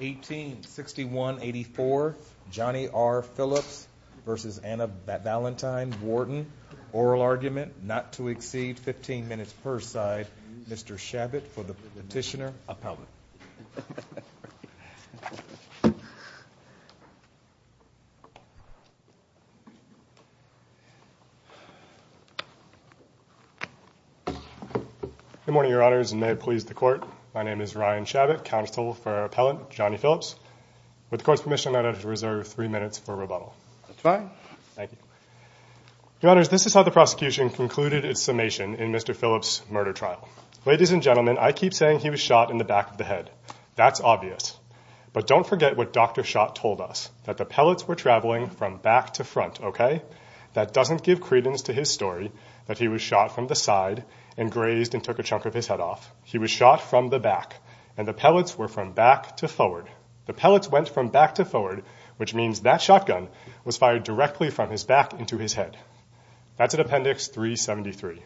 1861-84 Johnny R. Phillips v. Anna Valentine Wharton Oral argument not to exceed 15 minutes per side Mr. Chabot for the petitioner appellate Good morning your honors and may it please the court My name is Ryan Chabot counsel for appellant Johnny Phillips with the court's permission. I'd have to reserve three minutes for rebuttal Your honors this is how the prosecution concluded its summation in mr. Phillips murder trial ladies and gentlemen I keep saying he was shot in the back of the head. That's obvious But don't forget what dr. Shot told us that the pellets were traveling from back to front Okay That doesn't give credence to his story that he was shot from the side and grazed and took a chunk of his head off He was shot from the back and the pellets were from back to forward the pellets went from back to forward Which means that shotgun was fired directly from his back into his head. That's an appendix 373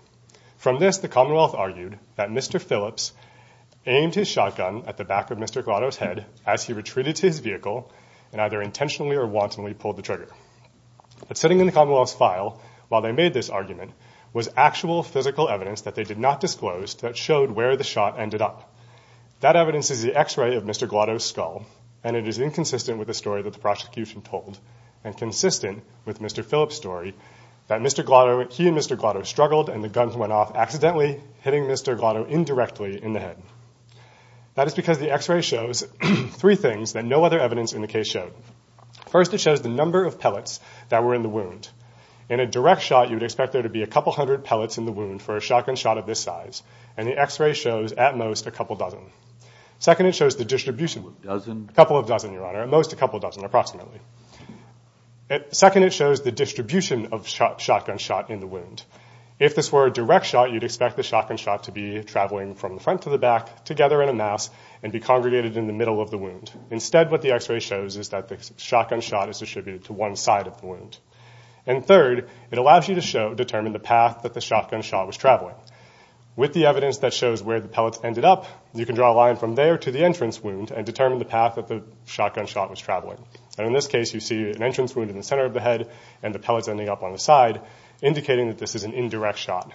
from this the Commonwealth argued that mr. Phillips Aimed his shotgun at the back of mr. Grotto's head as he retreated to his vehicle and either intentionally or wantonly pulled the trigger But sitting in the Commonwealth's file while they made this argument was actual physical evidence that they did not disclose That showed where the shot ended up that evidence is the x-ray of mr Glotto skull and it is inconsistent with the story that the prosecution told and consistent with mr. Phillips story that mr. Glotto he and mr. Glotto struggled and the guns went off accidentally hitting mr. Glotto indirectly in the head That is because the x-ray shows three things that no other evidence in the case showed First it shows the number of pellets that were in the wound in a direct shot You'd expect there to be a couple hundred pellets in the wound for a shotgun shot of this size And the x-ray shows at most a couple dozen Second it shows the distribution dozen a couple of dozen your honor at most a couple dozen approximately At second it shows the distribution of shotgun shot in the wound if this were a direct shot you'd expect the shotgun shot to be Traveling from the front to the back together in a mass and be congregated in the middle of the wound instead what the x-ray shows is that the shotgun shot is distributed to one side of the wound and Third it allows you to show determine the path that the shotgun shot was traveling with the evidence that shows where the pellets ended up you can draw a line from there to the entrance wound and determine the Path that the shotgun shot was traveling and in this case you see an entrance wound in the center of the head and the pellets Ending up on the side Indicating that this is an indirect shot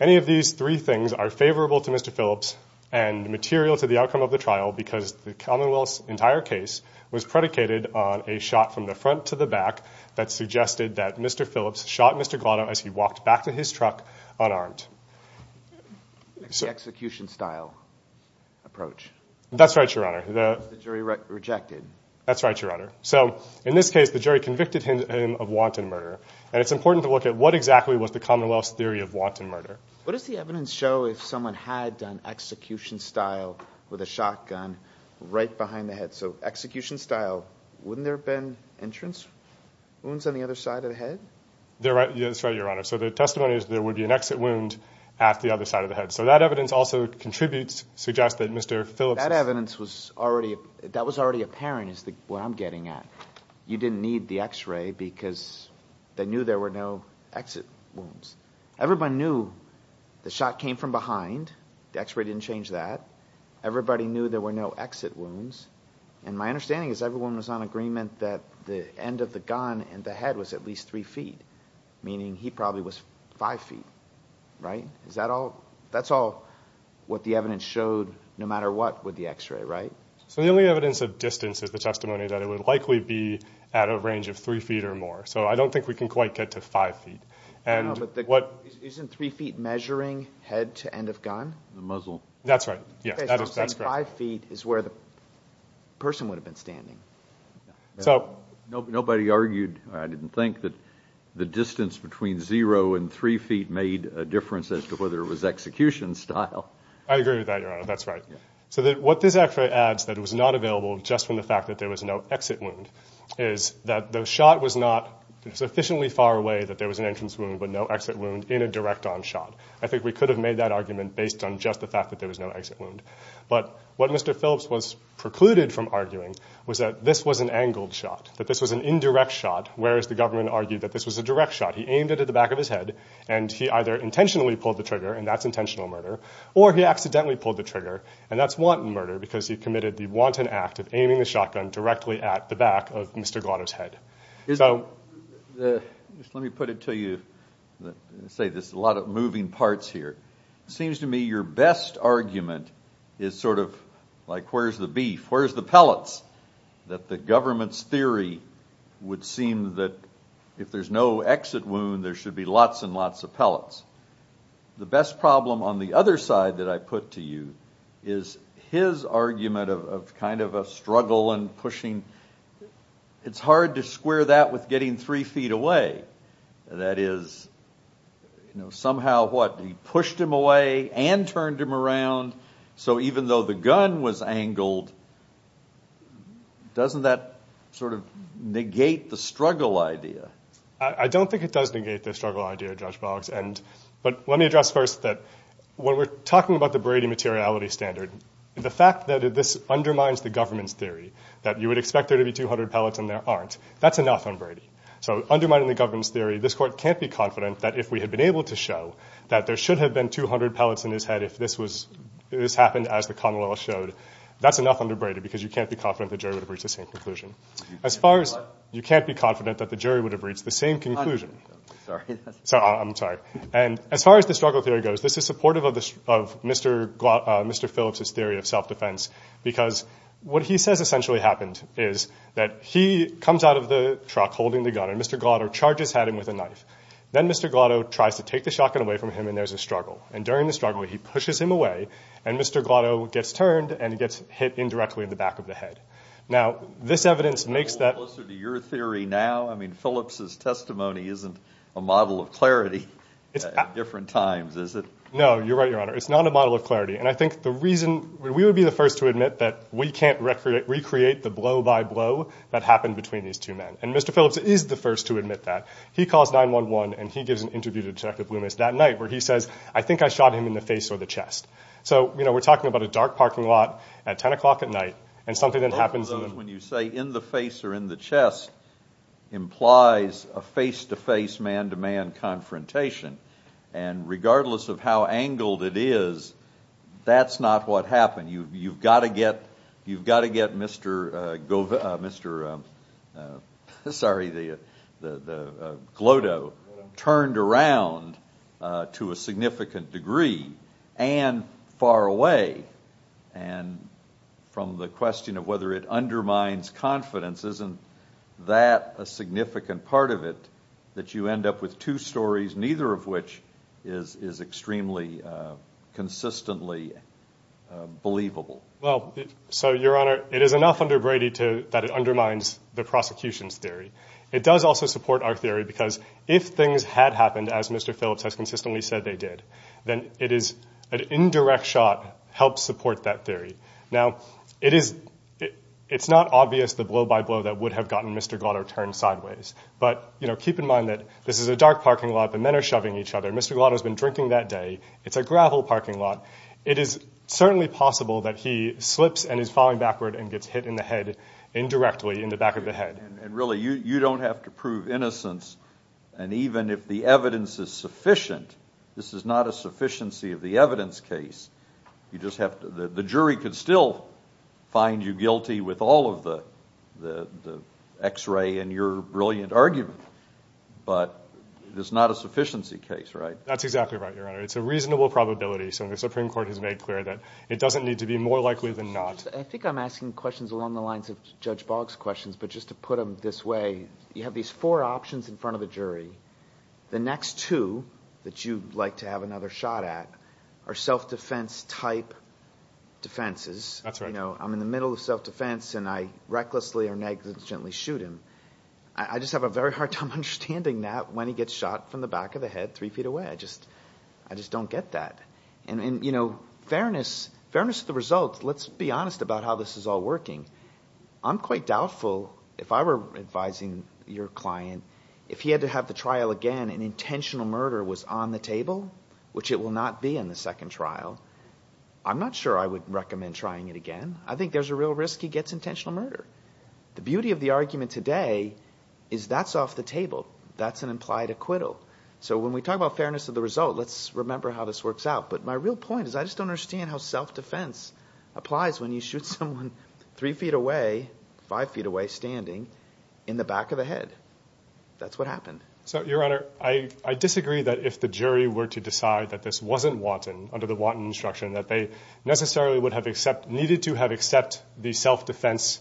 Any of these three things are favorable to mr. Phillips and Material to the outcome of the trial because the Commonwealth's entire case was predicated on a shot from the front to the back That suggested that mr. Phillips shot mr. Gatto as he walked back to his truck unarmed Execution style Approach that's right your honor the jury rejected. That's right your honor So in this case the jury convicted him of wanton murder and it's important to look at what exactly was the Commonwealth's theory of wanton Murder, what does the evidence show if someone had done execution style with a shotgun right behind the head? So execution style wouldn't there been entrance wounds on the other side of the head? They're right. Yes, right your honor. So the testimony is there would be an exit wound at the other side of the head So that evidence also contributes suggest that mr. Phillips that evidence was already that was already apparent is the what I'm getting at you didn't need the x-ray because They knew there were no exit wounds Everybody knew the shot came from behind the x-ray didn't change that Everybody knew there were no exit wounds And my understanding is everyone was on agreement that the end of the gun and the head was at least three feet Meaning he probably was five feet Right, is that all that's all what the evidence showed no matter what with the x-ray, right? So the only evidence of distance is the testimony that it would likely be at a range of three feet or more So I don't think we can quite get to five feet and what isn't three feet measuring head to end of gun the muzzle That's right. Yes, that's five feet is where the person would have been standing So nobody argued I didn't think that the distance between zero and three feet made a difference as to whether it was execution style I agree with that. That's right So that what this actually adds that it was not available just from the fact that there was no exit wound is that the shot? Was not sufficiently far away that there was an entrance wound, but no exit wound in a direct-on shot I think we could have made that argument based on just the fact that there was no exit wound But what mr. Phillips was precluded from arguing was that this was an angled shot that this was an indirect shot Where is the government argued that this was a direct shot? He aimed it at the back of his head and he either intentionally pulled the trigger and that's intentional murder Or he accidentally pulled the trigger and that's wanton murder because he committed the wanton act of aiming the shotgun Directly at the back of mr. Goddard's head. So Let me put it to you Say this a lot of moving parts here seems to me your best argument is sort of like, where's the beef? Where's the pellets that the government's theory? Would seem that if there's no exit wound there should be lots and lots of pellets the best problem on the other side that I put to you is his argument of kind of a struggle and pushing It's hard to square that with getting three feet away That is You know somehow what he pushed him away and turned him around. So even though the gun was angled Doesn't that sort of negate the struggle idea I don't think it does negate the struggle idea judge Boggs and but let me address first that What we're talking about the Brady materiality standard the fact that this undermines the government's theory that you would expect there to be 200 pellets That's enough on Brady so undermining the government's theory this court can't be confident that if we had been able to show that there should have been 200 pellets in His head if this was this happened as the Connell showed That's enough under Brady because you can't be confident the jury would have reached the same conclusion As far as you can't be confident that the jury would have reached the same conclusion So I'm sorry and as far as the struggle theory goes, this is supportive of this of mr Mr. Phillips's theory of self-defense Because what he says essentially happened is that he comes out of the truck holding the gun and mr God or charges had him with a knife then. Mr Glado tries to take the shotgun away from him and there's a struggle and during the struggle he pushes him away and mr Glado gets turned and he gets hit indirectly in the back of the head now this evidence makes that Theory now, I mean Phillips's testimony isn't a model of clarity Different times is it? No, you're right. Your honor It's not a model of clarity And I think the reason we would be the first to admit that we can't record it recreate the blow-by-blow That happened between these two men and mr Phillips is the first to admit that he calls 9-1-1 and he gives an interview to detective Loomis that night where he says I Think I shot him in the face or the chest So, you know, we're talking about a dark parking lot at 10 o'clock at night and something that happens when you say in the face implies a face-to-face man-to-man Confrontation and Regardless of how angled it is That's not what happened. You've got to get you've got to get mr. Gov. Mr Sorry the Glado turned around to a significant degree and far away and From the question of whether it undermines confidence Isn't that a significant part of it that you end up with two stories? Neither of which is is extremely consistently Believable. Well, so your honor it is enough under Brady to that it undermines the prosecution's theory It does also support our theory because if things had happened as mr Phillips has consistently said they did then it is an indirect shot help support that theory now it is It's not obvious the blow-by-blow that would have gotten mr. Glado turned sideways, but you know keep in mind that this is a dark parking lot. The men are shoving each other Mr. Glado has been drinking that day. It's a gravel parking lot It is certainly possible that he slips and is falling backward and gets hit in the head Indirectly in the back of the head and really you you don't have to prove innocence And even if the evidence is sufficient, this is not a sufficiency of the evidence case You just have to the jury could still Find you guilty with all of the the the x-ray and your brilliant argument But there's not a sufficiency case, right? That's exactly right your honor. It's a reasonable probability So the Supreme Court has made clear that it doesn't need to be more likely than not I think I'm asking questions along the lines of judge Boggs questions But just to put them this way you have these four options in front of the jury The next two that you'd like to have another shot at our self-defense type Defenses, that's right. No, I'm in the middle of self-defense and I recklessly or negligently shoot him I just have a very hard time understanding that when he gets shot from the back of the head three feet away I just I just don't get that and and you know fairness fairness of the results. Let's be honest about how this is all working I'm quite doubtful if I were advising your client if he had to have the trial again an intentional murder was on the table Which it will not be in the second trial I'm not sure. I would recommend trying it again. I think there's a real risk. He gets intentional murder the beauty of the argument today is That's off the table. That's an implied acquittal. So when we talk about fairness of the result, let's remember how this works out But my real point is I just don't understand how self-defense Applies when you shoot someone three feet away five feet away standing in the back of the head That's what happened. So your honor I I disagree that if the jury were to decide that this wasn't wanton under the wanton instruction that they Necessarily would have except needed to have except the self-defense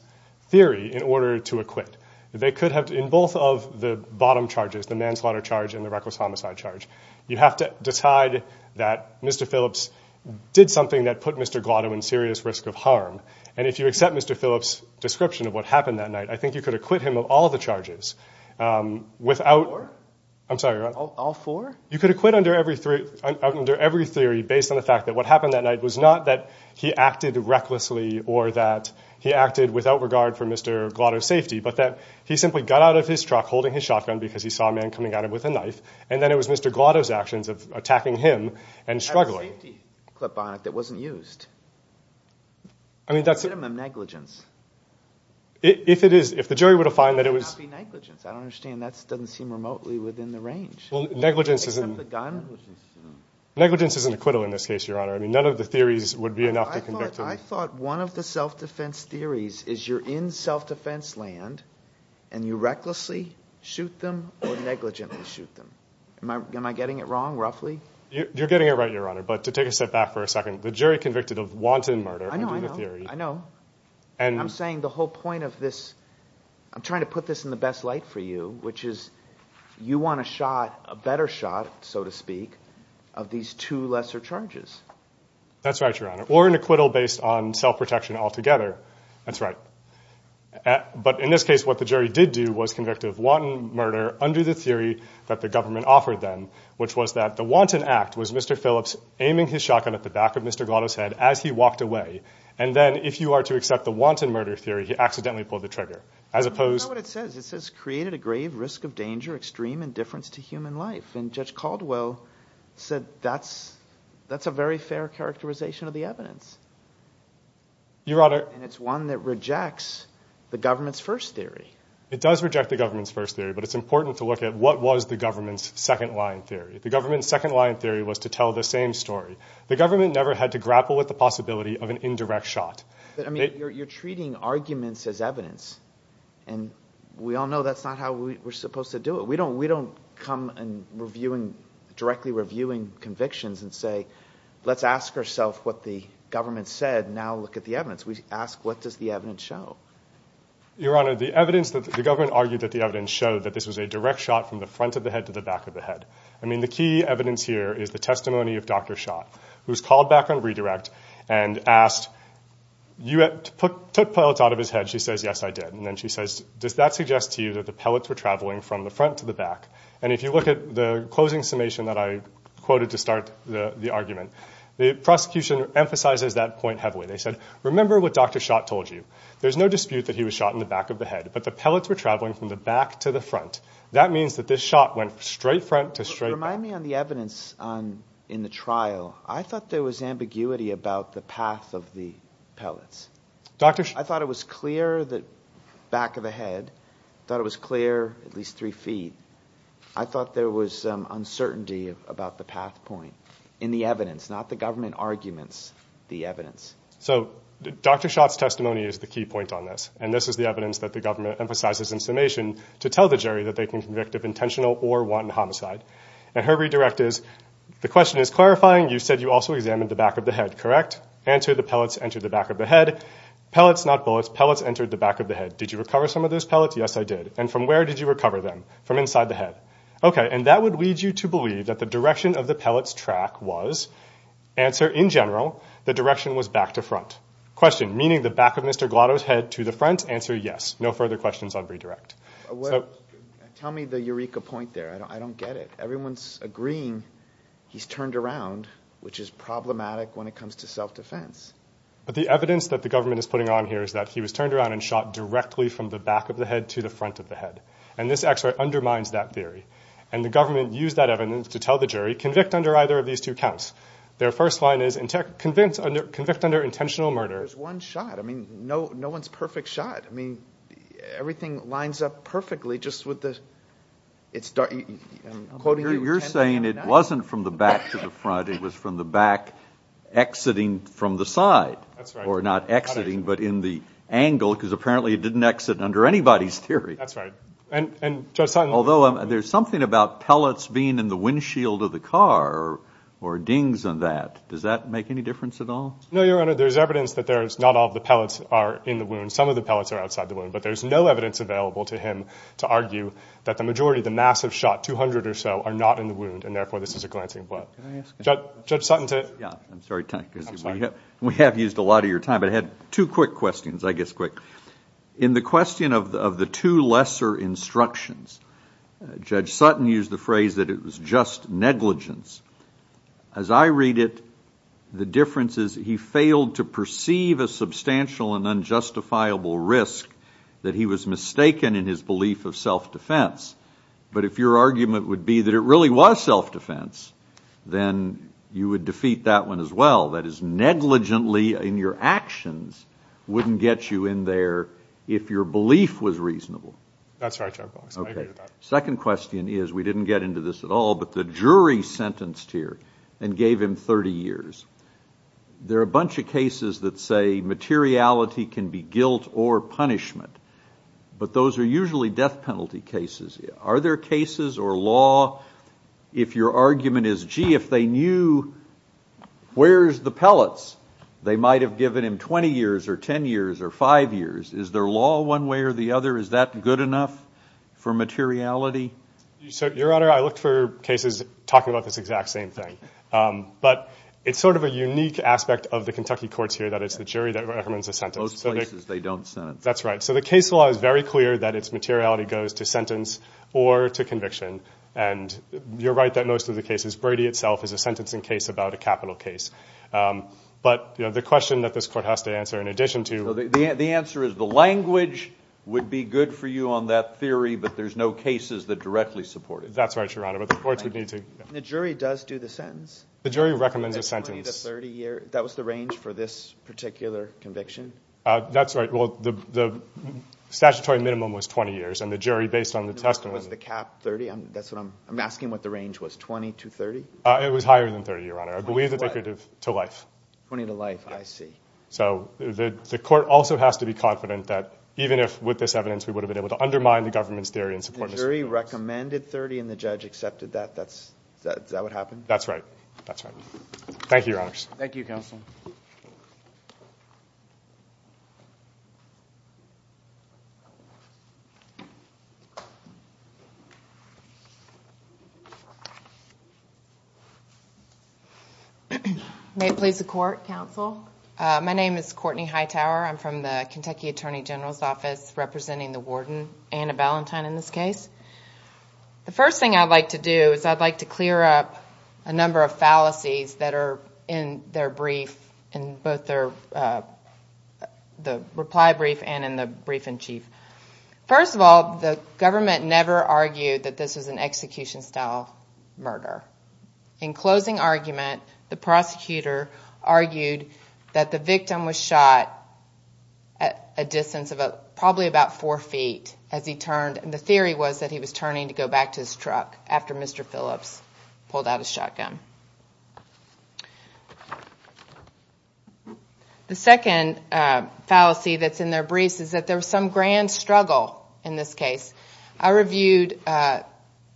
Theory in order to acquit they could have in both of the bottom charges the manslaughter charge in the reckless homicide charge You have to decide that. Mr. Phillips did something that put mr. Glado in serious risk of harm and if you accept mr. Phillips description of what happened that night I think you could acquit him of all the charges Without I'm sorry all four you could acquit under every three Under every theory based on the fact that what happened that night was not that he acted recklessly or that He acted without regard for mr. Glado safety, but that he simply got out of his truck holding his shotgun because he saw a man coming at him with a knife And then it was mr. Glado's actions of attacking him and struggling That wasn't used. I Mean that's a minimum negligence If it is if the jury would have find that it was Understand that's doesn't seem remotely within the range. Well negligence isn't Negligence is an acquittal in this case your honor. I mean none of the theories would be enough I thought one of the self-defense theories is you're in self-defense land and you Recklessly shoot them or negligently shoot them. Am I getting it wrong roughly you're getting it right your honor But to take a step back for a second the jury convicted of wanton murder. I know I know And I'm saying the whole point of this I'm trying to put this in the best light for you, which is You want a shot a better shot so to speak of these two lesser charges? That's right your honor or an acquittal based on self-protection altogether. That's right But in this case what the jury did do was convicted of wanton murder under the theory that the government offered them Which was that the wanton act was mr. Phillips aiming his shotgun at the back of mr Glados head as he walked away and then if you are to accept the wanton murder theory He accidentally pulled the trigger as opposed It says it says created a grave risk of danger extreme indifference to human life and judge Caldwell Said that's that's a very fair characterization of the evidence Your honor and it's one that rejects the government's first theory It does reject the government's first theory But it's important to look at what was the government's second line theory the government's second line theory was to tell the same story the government never had to grapple with the possibility of an indirect shot, but I mean you're treating arguments as evidence and We all know that's not how we were supposed to do it We don't we don't come and reviewing directly reviewing convictions and say let's ask ourself What the government said now look at the evidence we ask. What does the evidence show? Your honor the evidence that the government argued that the evidence showed that this was a direct shot from the front of the head To the back of the head. I mean the key evidence here is the testimony of dr. Schott who's called back on redirect and asked You have to put took pellets out of his head She says yes I did and then she says does that suggest to you that the pellets were traveling from the front to the back and if you Look at the closing summation that I quoted to start the argument the prosecution emphasizes that point heavily They said remember what dr. Schott told you there's no dispute that he was shot in the back of the head But the pellets were traveling from the back to the front that means that this shot went straight front to straight Remind me on the evidence on in the trial. I thought there was ambiguity about the path of the pellets Doctors, I thought it was clear that back of the head thought it was clear at least three feet I thought there was some uncertainty about the path point in the evidence not the government arguments the evidence So dr. Schott's testimony is the key point on this and this is the evidence that the government emphasizes in summation to tell the jury that they Intentional or wanton homicide and her redirect is the question is clarifying You said you also examined the back of the head correct answer the pellets entered the back of the head Pellets not bullets pellets entered the back of the head. Did you recover some of those pellets? Yes, I did and from where did you recover them from inside the head? Okay, and that would lead you to believe that the direction of the pellets track was Answer in general the direction was back to front question meaning the back of mr. Glados head to the front answer. Yes, no further questions on redirect Well, tell me the Eureka point there. I don't get it. Everyone's agreeing He's turned around which is problematic when it comes to self-defense but the evidence that the government is putting on here is that he was turned around and shot directly from the back of the head to the front of the head and this x-ray undermines that theory and The government used that evidence to tell the jury convict under either of these two counts Their first line is intact convinced under convict under intentional murder. There's one shot. I mean, no, no one's perfect shot. I mean Everything lines up perfectly just with this It's dark Quoting you're saying it wasn't from the back to the front. It was from the back Exiting from the side or not exiting but in the angle because apparently it didn't exit under anybody's theory That's right And and just although there's something about pellets being in the windshield of the car or dings on that Does that make any difference at all? No, your honor There's evidence that there's not all the pellets are in the wound Some of the pellets are outside the wound But there's no evidence available to him to argue that the majority the mass have shot 200 or so are not in the wound And therefore this is a glancing blood Judge Sutton's it. Yeah, I'm sorry. Thank you We have used a lot of your time, but I had two quick questions. I guess quick in the question of the two lesser instructions Judge Sutton used the phrase that it was just negligence as I read it The difference is he failed to perceive a substantial and unjustifiable risk that he was mistaken in his belief of self-defense But if your argument would be that it really was self-defense Then you would defeat that one as well. That is Negligently in your actions wouldn't get you in there if your belief was reasonable. That's right Second question is we didn't get into this at all But the jury sentenced here and gave him 30 years There are a bunch of cases that say materiality can be guilt or punishment But those are usually death penalty cases. Are there cases or law if your argument is gee if they knew Where's the pellets? They might have given him 20 years or 10 years or five years. Is there law one way or the other? Is that good enough for? Materiality so your honor. I looked for cases talking about this exact same thing But it's sort of a unique aspect of the Kentucky courts here that it's the jury that recommends a sentence that's right, so the case law is very clear that its materiality goes to sentence or to conviction and You're right that most of the cases Brady itself is a sentencing case about a capital case But you know the question that this court has to answer in addition to the answer is the language Would be good for you on that theory, but there's no cases that directly support it That's right your honor, but the courts would need to the jury does do the sentence the jury recommends a sentence That was the range for this particular conviction. That's right. Well the Statutory minimum was 20 years and the jury based on the test was the cap 30 I'm that's what I'm I'm asking what the range was 20 to 30. It was higher than 30 your honor I believe that they could have to life 20 to life So the court also has to be confident that even if with this evidence We would have been able to undermine the government's theory and support very recommended 30 and the judge accepted that that's that's that would happen That's right. That's right. Thank you your honors. Thank you counsel You May it please the court counsel My name is Courtney Hightower. I'm from the Kentucky Attorney General's office representing the warden and a valentine in this case the first thing I'd like to do is I'd like to clear up a number of fallacies that are in their brief and both their The reply brief and in the brief-in-chief First of all, the government never argued that this was an execution style murder in closing argument The prosecutor argued that the victim was shot At a distance of a probably about four feet as he turned and the theory was that he was turning to go back to his Truck after mr. Phillips pulled out a shotgun The Second fallacy that's in their briefs is that there was some grand struggle in this case I reviewed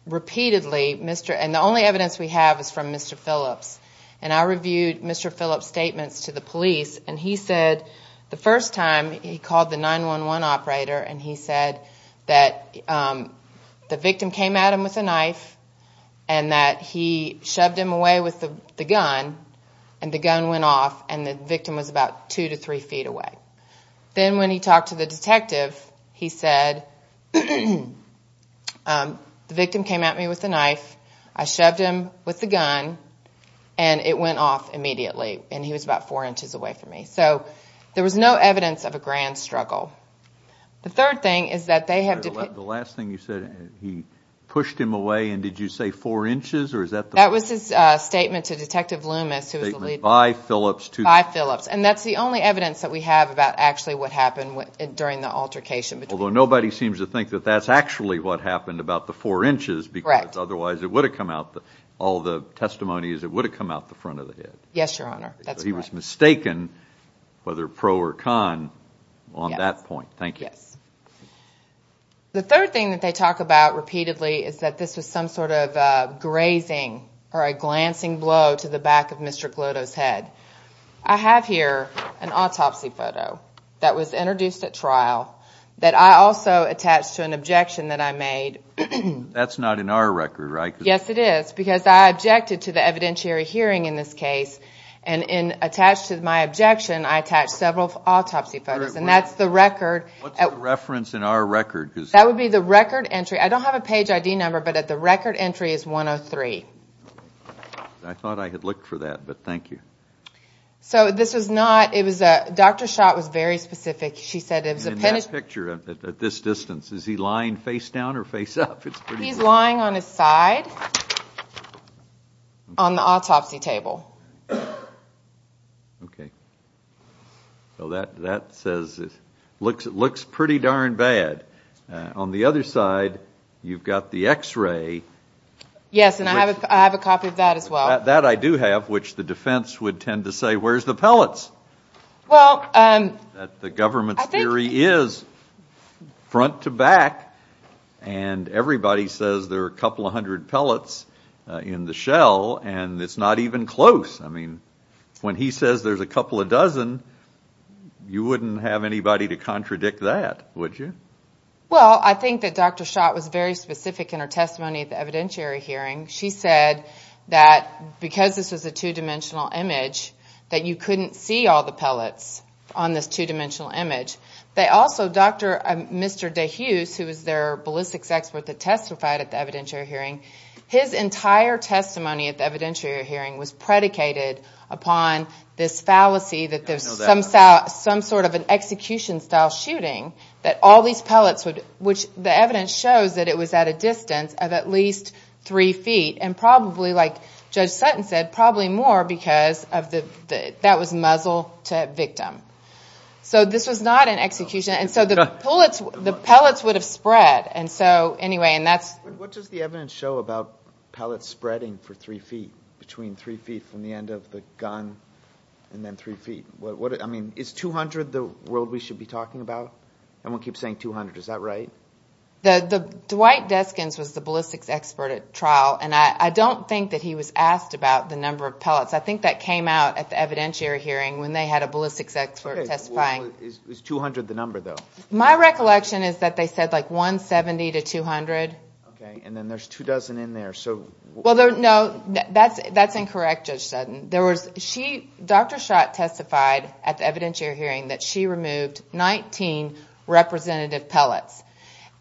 Repeatedly mr. And the only evidence we have is from mr. Phillips and I reviewed mr Phillips statements to the police and he said the first time he called the 911 operator and he said that the victim came at him with a knife and He shoved him away with the gun and the gun went off and the victim was about two to three feet away Then when he talked to the detective he said The victim came at me with a knife I shoved him with the gun and It went off immediately and he was about four inches away from me. So there was no evidence of a grand struggle The third thing is that they have the last thing you said he pushed him away And did you say four inches or is that that was his statement to detective Loomis? It was a lead by Phillips to buy Phillips And that's the only evidence that we have about actually what happened during the altercation But although nobody seems to think that that's actually what happened about the four inches Be correct. Otherwise, it would have come out the all the testimonies. It would have come out the front of the head Yes, your honor. He was mistaken Whether pro or con on that point, thank you the third thing that they talk about repeatedly is that this was some sort of Grazing or a glancing blow to the back of mr. Glow toes head. I have here an autopsy photo That was introduced at trial that I also attached to an objection that I made That's not in our record, right? Yes, it is because I objected to the evidentiary hearing in this case and in attached to my objection I attached several autopsy photos and that's the record at reference in our record because that would be the record entry I don't have a page ID number, but at the record entry is 103. I Thought I had looked for that, but thank you So this was not it was a doctor shot was very specific She said it was a penance picture at this distance. Is he lying face down or face up? He's lying on his side on the autopsy table Okay So that that says it looks it looks pretty darn bad on the other side. You've got the x-ray Yes, and I have a copy of that as well that I do have which the defense would tend to say Where's the pellets? well, and the government's theory is front to back and Everybody says there are a couple of hundred pellets in the shell and it's not even close I mean when he says there's a couple of dozen You wouldn't have anybody to contradict that would you? Well, I think that dr Schott was very specific in her testimony at the evidentiary hearing She said that because this was a two-dimensional image that you couldn't see all the pellets on this two-dimensional image They also dr. Mr. Day Hughes who was their ballistics expert that testified at the evidentiary hearing his entire Testimony at the evidentiary hearing was predicated upon this fallacy that there's some south some sort of an execution style shooting that all these pellets would which the evidence shows that it was at a distance of at least three feet and probably like judge Sutton said probably more because of the That was muzzle to victim So this was not an execution and so the bullets the pellets would have spread and so anyway And that's what does the evidence show about pellets spreading for three feet between three feet from the end of the gun? And then three feet what I mean is 200 the world we should be talking about and we'll keep saying 200. Is that right? The the Dwight Deskins was the ballistics expert at trial and I don't think that he was asked about the number of pellets I think that came out at the evidentiary hearing when they had a ballistics expert testifying 200 the number though. My recollection is that they said like 170 to 200 okay, and then there's two dozen in there. So well, there's no that's that's incorrect judge Sutton There was she dr. Schott testified at the evidentiary hearing that she removed 19 representative pellets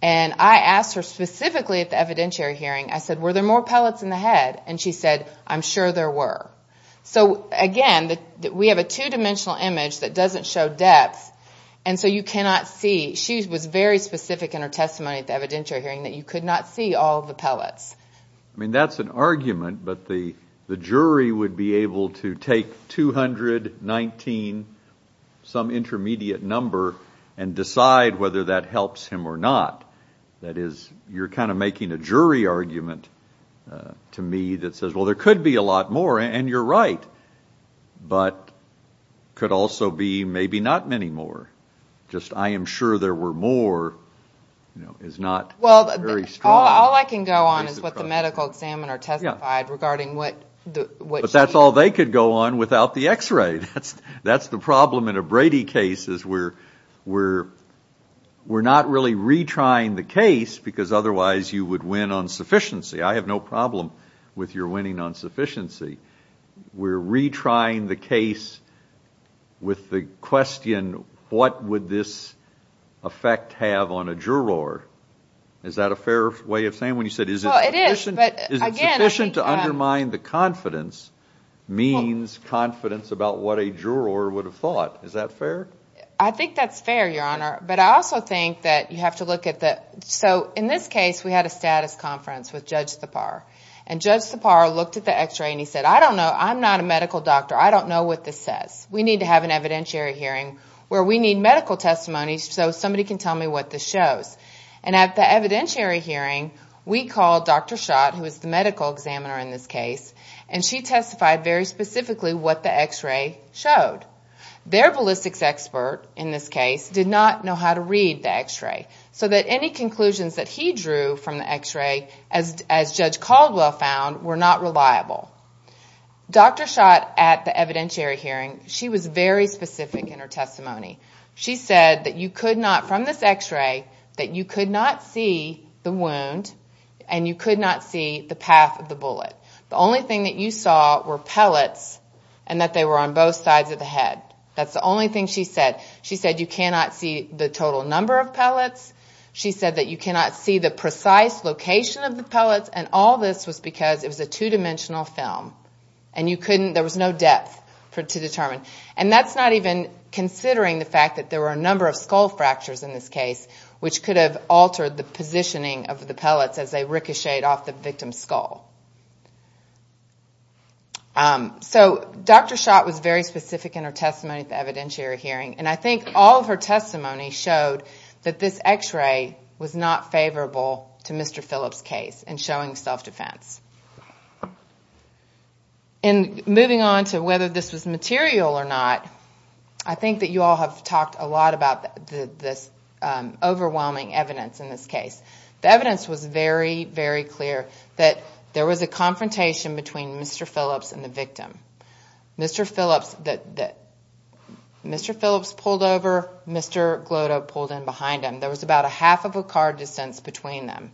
and I asked her specifically at the evidentiary hearing I said were there more pellets in the head and she said I'm sure there were So again that we have a two-dimensional image that doesn't show depth And so you cannot see she was very specific in her testimony at the evidentiary hearing that you could not see all the pellets I mean, that's an argument, but the the jury would be able to take 219 Some intermediate number and decide whether that helps him or not. That is you're kind of making a jury argument To me that says well there could be a lot more and you're right but Could also be maybe not many more just I am sure there were more You know is not well All I can go on is what the medical examiner testified regarding what? What that's all they could go on without the x-ray. That's that's the problem in a Brady case is where we're We're not really retrying the case because otherwise you would win on sufficiency. I have no problem with your winning on sufficiency We're retrying the case with the question what would this Effect have on a juror. Is that a fair way of saying when you said is it? sufficient to undermine the confidence Means confidence about what a juror would have thought is that fair? I think that's fair your honor, but I also think that you have to look at the so in this case We had a status conference with judge the par and judge the par looked at the x-ray and he said I don't know I'm not a medical doctor. I don't know what this says We need to have an evidentiary hearing where we need medical testimonies So somebody can tell me what this shows and at the evidentiary hearing we called dr Schott who is the medical examiner in this case and she testified very specifically what the x-ray showed Their ballistics expert in this case did not know how to read the x-ray so that any conclusions that he drew from the x-ray as As judge Caldwell found were not reliable Dr. Schott at the evidentiary hearing she was very specific in her testimony She said that you could not from this x-ray that you could not see the wound And you could not see the path of the bullet The only thing that you saw were pellets and that they were on both sides of the head That's the only thing she said she said you cannot see the total number of pellets She said that you cannot see the precise location of the pellets and all this was because it was a two-dimensional film And you couldn't there was no depth for to determine and that's not even Considering the fact that there were a number of skull fractures in this case Which could have altered the positioning of the pellets as they ricocheted off the victim skull? So Dr. Schott was very specific in her testimony at the evidentiary hearing and I think all of her testimony showed that this x-ray was not Favorable to mr. Phillips case and showing self-defense and Moving on to whether this was material or not. I think that you all have talked a lot about this Overwhelming evidence in this case the evidence was very very clear that there was a confrontation between mr. Phillips and the victim Mr. Phillips that that Mr. Phillips pulled over. Mr. Gloto pulled in behind him. There was about a half of a car distance between them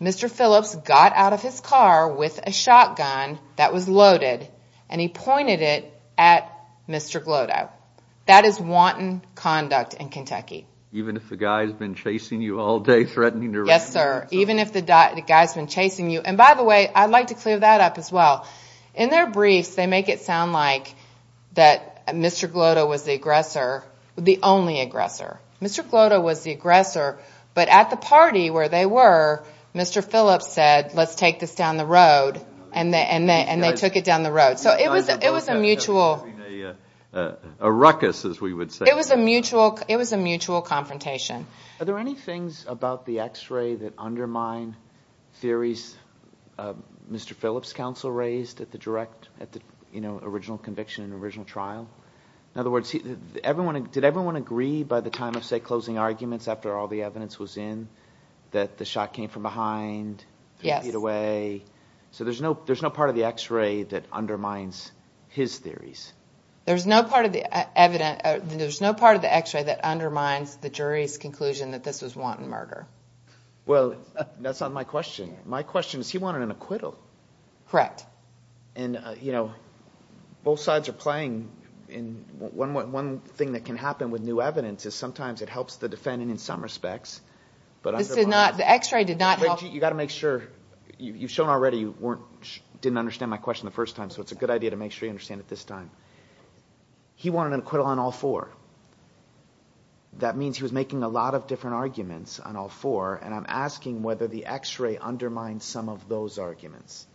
Mr. Phillips got out of his car with a shotgun that was loaded and he pointed it at Mr. Gloto that is wanton conduct in Kentucky, even if the guy's been chasing you all day threatening to yes, sir Even if the guy's been chasing you and by the way, I'd like to clear that up as well in their briefs They make it sound like that. Mr. Gloto was the aggressor the only aggressor. Mr Gloto was the aggressor but at the party where they were Mr. Phillips said let's take this down the road and they and they and they took it down the road So it was it was a mutual Ruckus as we would say it was a mutual. It was a mutual confrontation. Are there any things about the x-ray that undermine? theories Mr. Phillips counsel raised at the direct at the you know, original conviction an original trial in other words Everyone did everyone agree by the time of say closing arguments after all the evidence was in that the shot came from behind Yeah it away So there's no there's no part of the x-ray that undermines his theories There's no part of the evidence. There's no part of the x-ray that undermines the jury's conclusion that this was wanton murder Well, that's not my question. My question is he wanted an acquittal Correct, and you know Both sides are playing in one one thing that can happen with new evidence is sometimes it helps the defendant in some respects But I said not the x-ray did not you got to make sure you've shown already You weren't didn't understand my question the first time so it's a good idea to make sure you understand at this time He wanted an acquittal on all four That means he was making a lot of different arguments on all four and I'm asking whether the x-ray undermined some of those arguments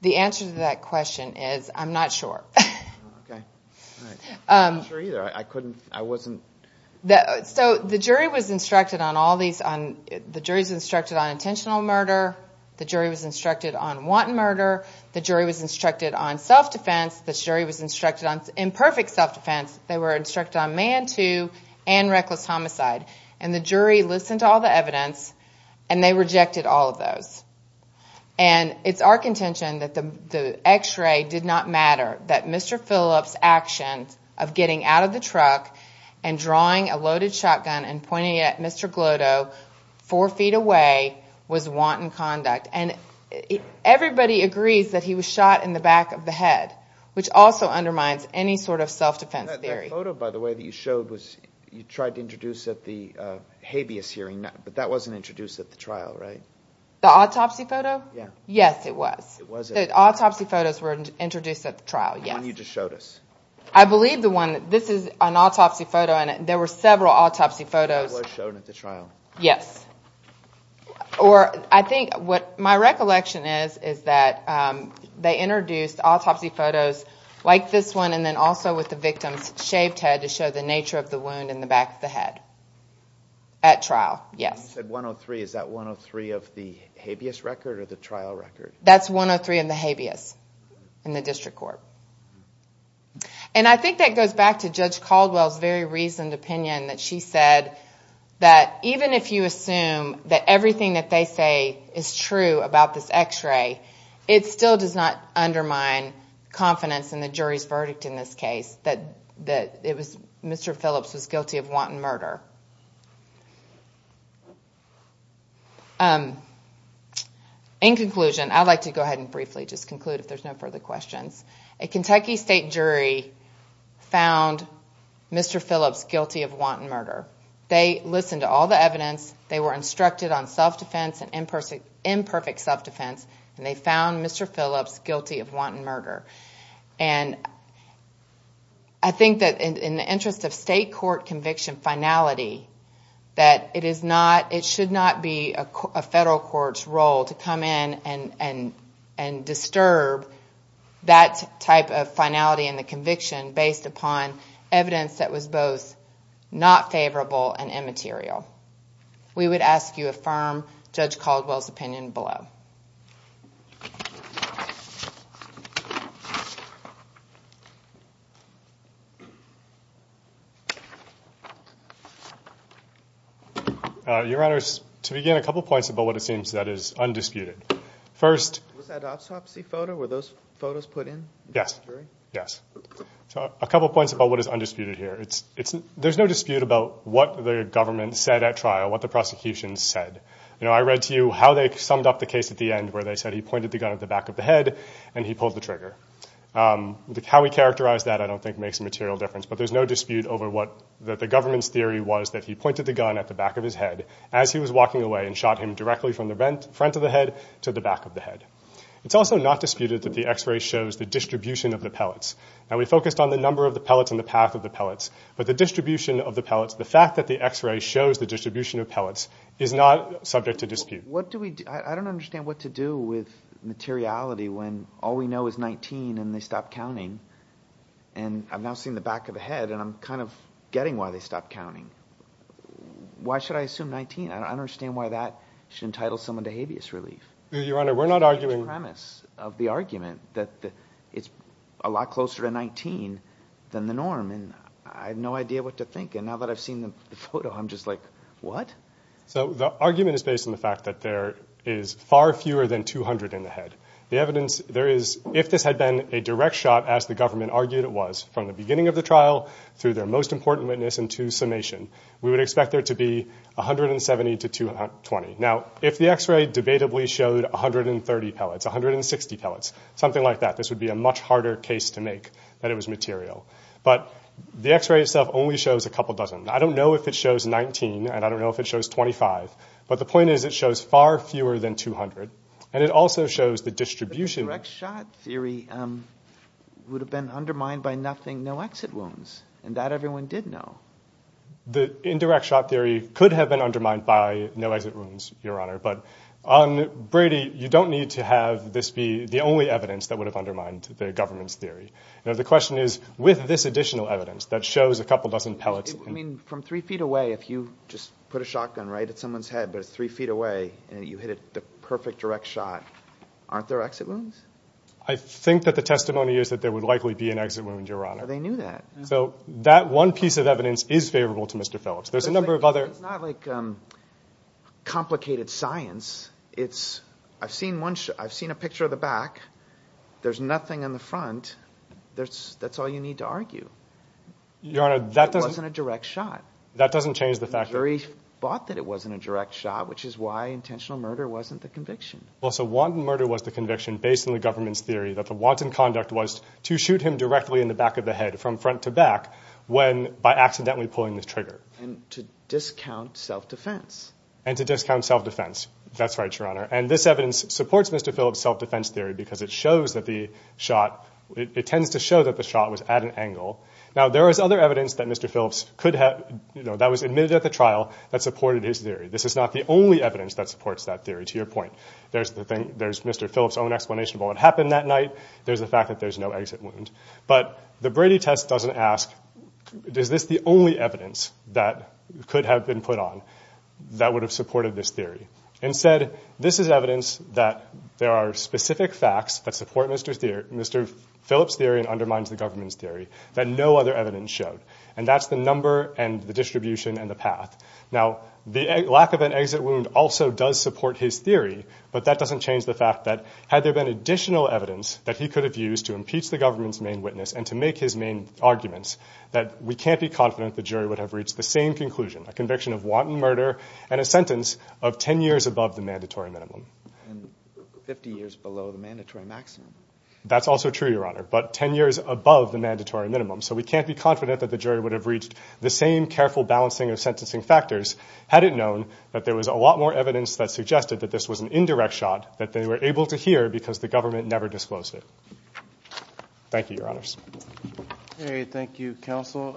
The answer to that question is I'm not sure So the jury was instructed on all these on the jury's instructed on intentional murder The jury was instructed on wanton murder the jury was instructed on self-defense the jury was instructed on imperfect self-defense they were instructed on man to and reckless homicide and the jury listened to all the evidence and they rejected all of those and It's our contention that the the x-ray did not matter that. Mr. Phillips actions of getting out of the truck and drawing a loaded shotgun and pointing at mr. Four feet away was wanton conduct and Everybody agrees that he was shot in the back of the head Which also undermines any sort of self-defense theory photo by the way that you showed was you tried to introduce at the? Habeas hearing but that wasn't introduced at the trial, right the autopsy photo. Yeah. Yes, it was Autopsy photos were introduced at the trial. Yeah, you just showed us I believe the one this is an autopsy photo in it There were several autopsy photos shown at the trial. Yes Or I think what my recollection is is that? They introduced autopsy photos like this one and then also with the victim's shaved head to show the nature of the wound in the back of the head At trial. Yes said 103. Is that 103 of the habeas record or the trial record? That's 103 in the habeas in the district court And I think that goes back to judge Caldwell's very reasoned opinion that she said That even if you assume that everything that they say is true about this x-ray. It still does not undermine Confidence in the jury's verdict in this case that that it was mr. Phillips was guilty of wanton murder In Conclusion I'd like to go ahead and briefly just conclude if there's no further questions a Kentucky state jury found Mr. Phillips guilty of wanton murder. They listened to all the evidence They were instructed on self-defense and in person imperfect self-defense and they found. Mr. Phillips guilty of wanton murder and I That it is not it should not be a federal court's role to come in and and and disturb That type of finality in the conviction based upon evidence that was both Not favorable and immaterial We would ask you a firm judge Caldwell's opinion below Your honors to begin a couple points about what it seems that is undisputed first Yes, yes, so a couple points about what is undisputed here It's it's there's no dispute about what the government said at trial what the prosecution said, you know I read to you how they summed up the case at the end where they said he pointed the gun at the back of The head and he pulled the trigger The cow we characterized that I don't think makes a material difference but there's no dispute over what that the government's theory was that he pointed the gun at the back of his head as he was Walking away and shot him directly from the rent front of the head to the back of the head It's also not disputed that the x-ray shows the distribution of the pellets now we focused on the number of the pellets in the path of the pellets but the Distribution of the pellets the fact that the x-ray shows the distribution of pellets is not subject to dispute What do we I don't understand what to do with? materiality when all we know is 19 and they stopped counting and I've now seen the back of the head and I'm kind of getting why they stopped counting Why should I assume 19? I don't understand why that should entitle someone to habeas relief your honor We're not arguing premise of the argument that it's a lot closer to 19 Than the norm and I have no idea what to think and now that I've seen the photo I'm just like what so the argument is based on the fact that there is Far fewer than 200 in the head the evidence there is if this had been a direct shot as the government argued It was from the beginning of the trial through their most important witness and to summation. We would expect there to be 170 to 220 now if the x-ray debatably showed 130 pellets 160 pellets something like that This would be a much harder case to make that it was material, but the x-ray itself only shows a couple dozen I don't know if it shows 19, and I don't know if it shows 25 But the point is it shows far fewer than 200 and it also shows the distribution theory Would have been undermined by nothing no exit wounds and that everyone did know The indirect shot theory could have been undermined by no exit wounds your honor But on Brady you don't need to have this be the only evidence that would have undermined the government's theory You know the question is with this additional evidence that shows a couple dozen pellets I mean from three feet away if you just put a shotgun right at someone's head But it's three feet away, and you hit it the perfect direct shot Aren't there exit wounds I think that the testimony is that there would likely be an exit wound your honor They knew that so that one piece of evidence is favorable to mr.. Phillips. There's a number of other Complicated science, it's I've seen one. I've seen a picture of the back There's nothing in the front. There's that's all you need to argue Your honor that doesn't a direct shot that doesn't change the fact very bought that it wasn't a direct shot Which is why intentional murder wasn't the conviction well so wanton murder was the conviction based on the government's theory that the wanton conduct was To shoot him directly in the back of the head from front to back when by accidentally pulling this trigger and to discount Self-defense and to discount self-defense that's right your honor and this evidence supports mr. Phillips self-defense theory because it shows that the shot it tends to show that the shot was at an angle now There is other evidence that mr. Could have you know that was admitted at the trial that supported his theory This is not the only evidence that supports that theory to your point. There's the thing there's mr. Phillips own explanation about what happened that night. There's the fact that there's no exit wound, but the Brady test doesn't ask Does this the only evidence that could have been put on? That would have supported this theory and said this is evidence that there are specific facts that support mr. Mr. Phillips theory and undermines the government's theory that no other evidence showed and that's the number and the distribution and the path now The lack of an exit wound also does support his theory but that doesn't change the fact that Had there been additional evidence that he could have used to impeach the government's main witness and to make his main arguments that we can't be confident the jury would have reached the same conclusion a conviction of wanton murder and a sentence of 10 years above the mandatory minimum 50 years below the mandatory maximum That's also true your honor, but 10 years above the mandatory minimum So we can't be confident that the jury would have reached the same careful balancing of sentencing factors Had it known that there was a lot more evidence that suggested that this was an indirect shot that they were able to hear because The government never disclosed it Thank you your honors Thank You counsel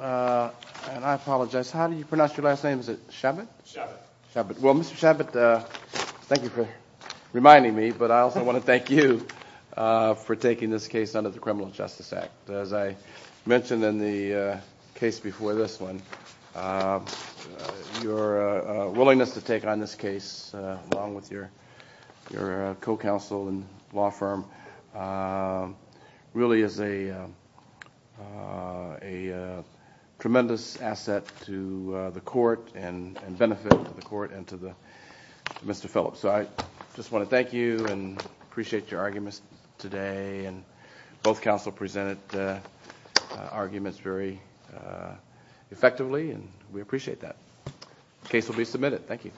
Apologize, how do you pronounce your last name? Is it Shabbat Shabbat? Well, mr. Shabbat Thank you for reminding me, but I also want to thank you For taking this case under the Criminal Justice Act as I mentioned in the case before this one Your willingness to take on this case along with your your co-counsel and law firm Really is a Tremendous asset to the court and benefit to the court and to the Mr. Phillips, so I just want to thank you and appreciate your arguments today and both counsel presented arguments very Effectively and we appreciate that case will be submitted. Thank you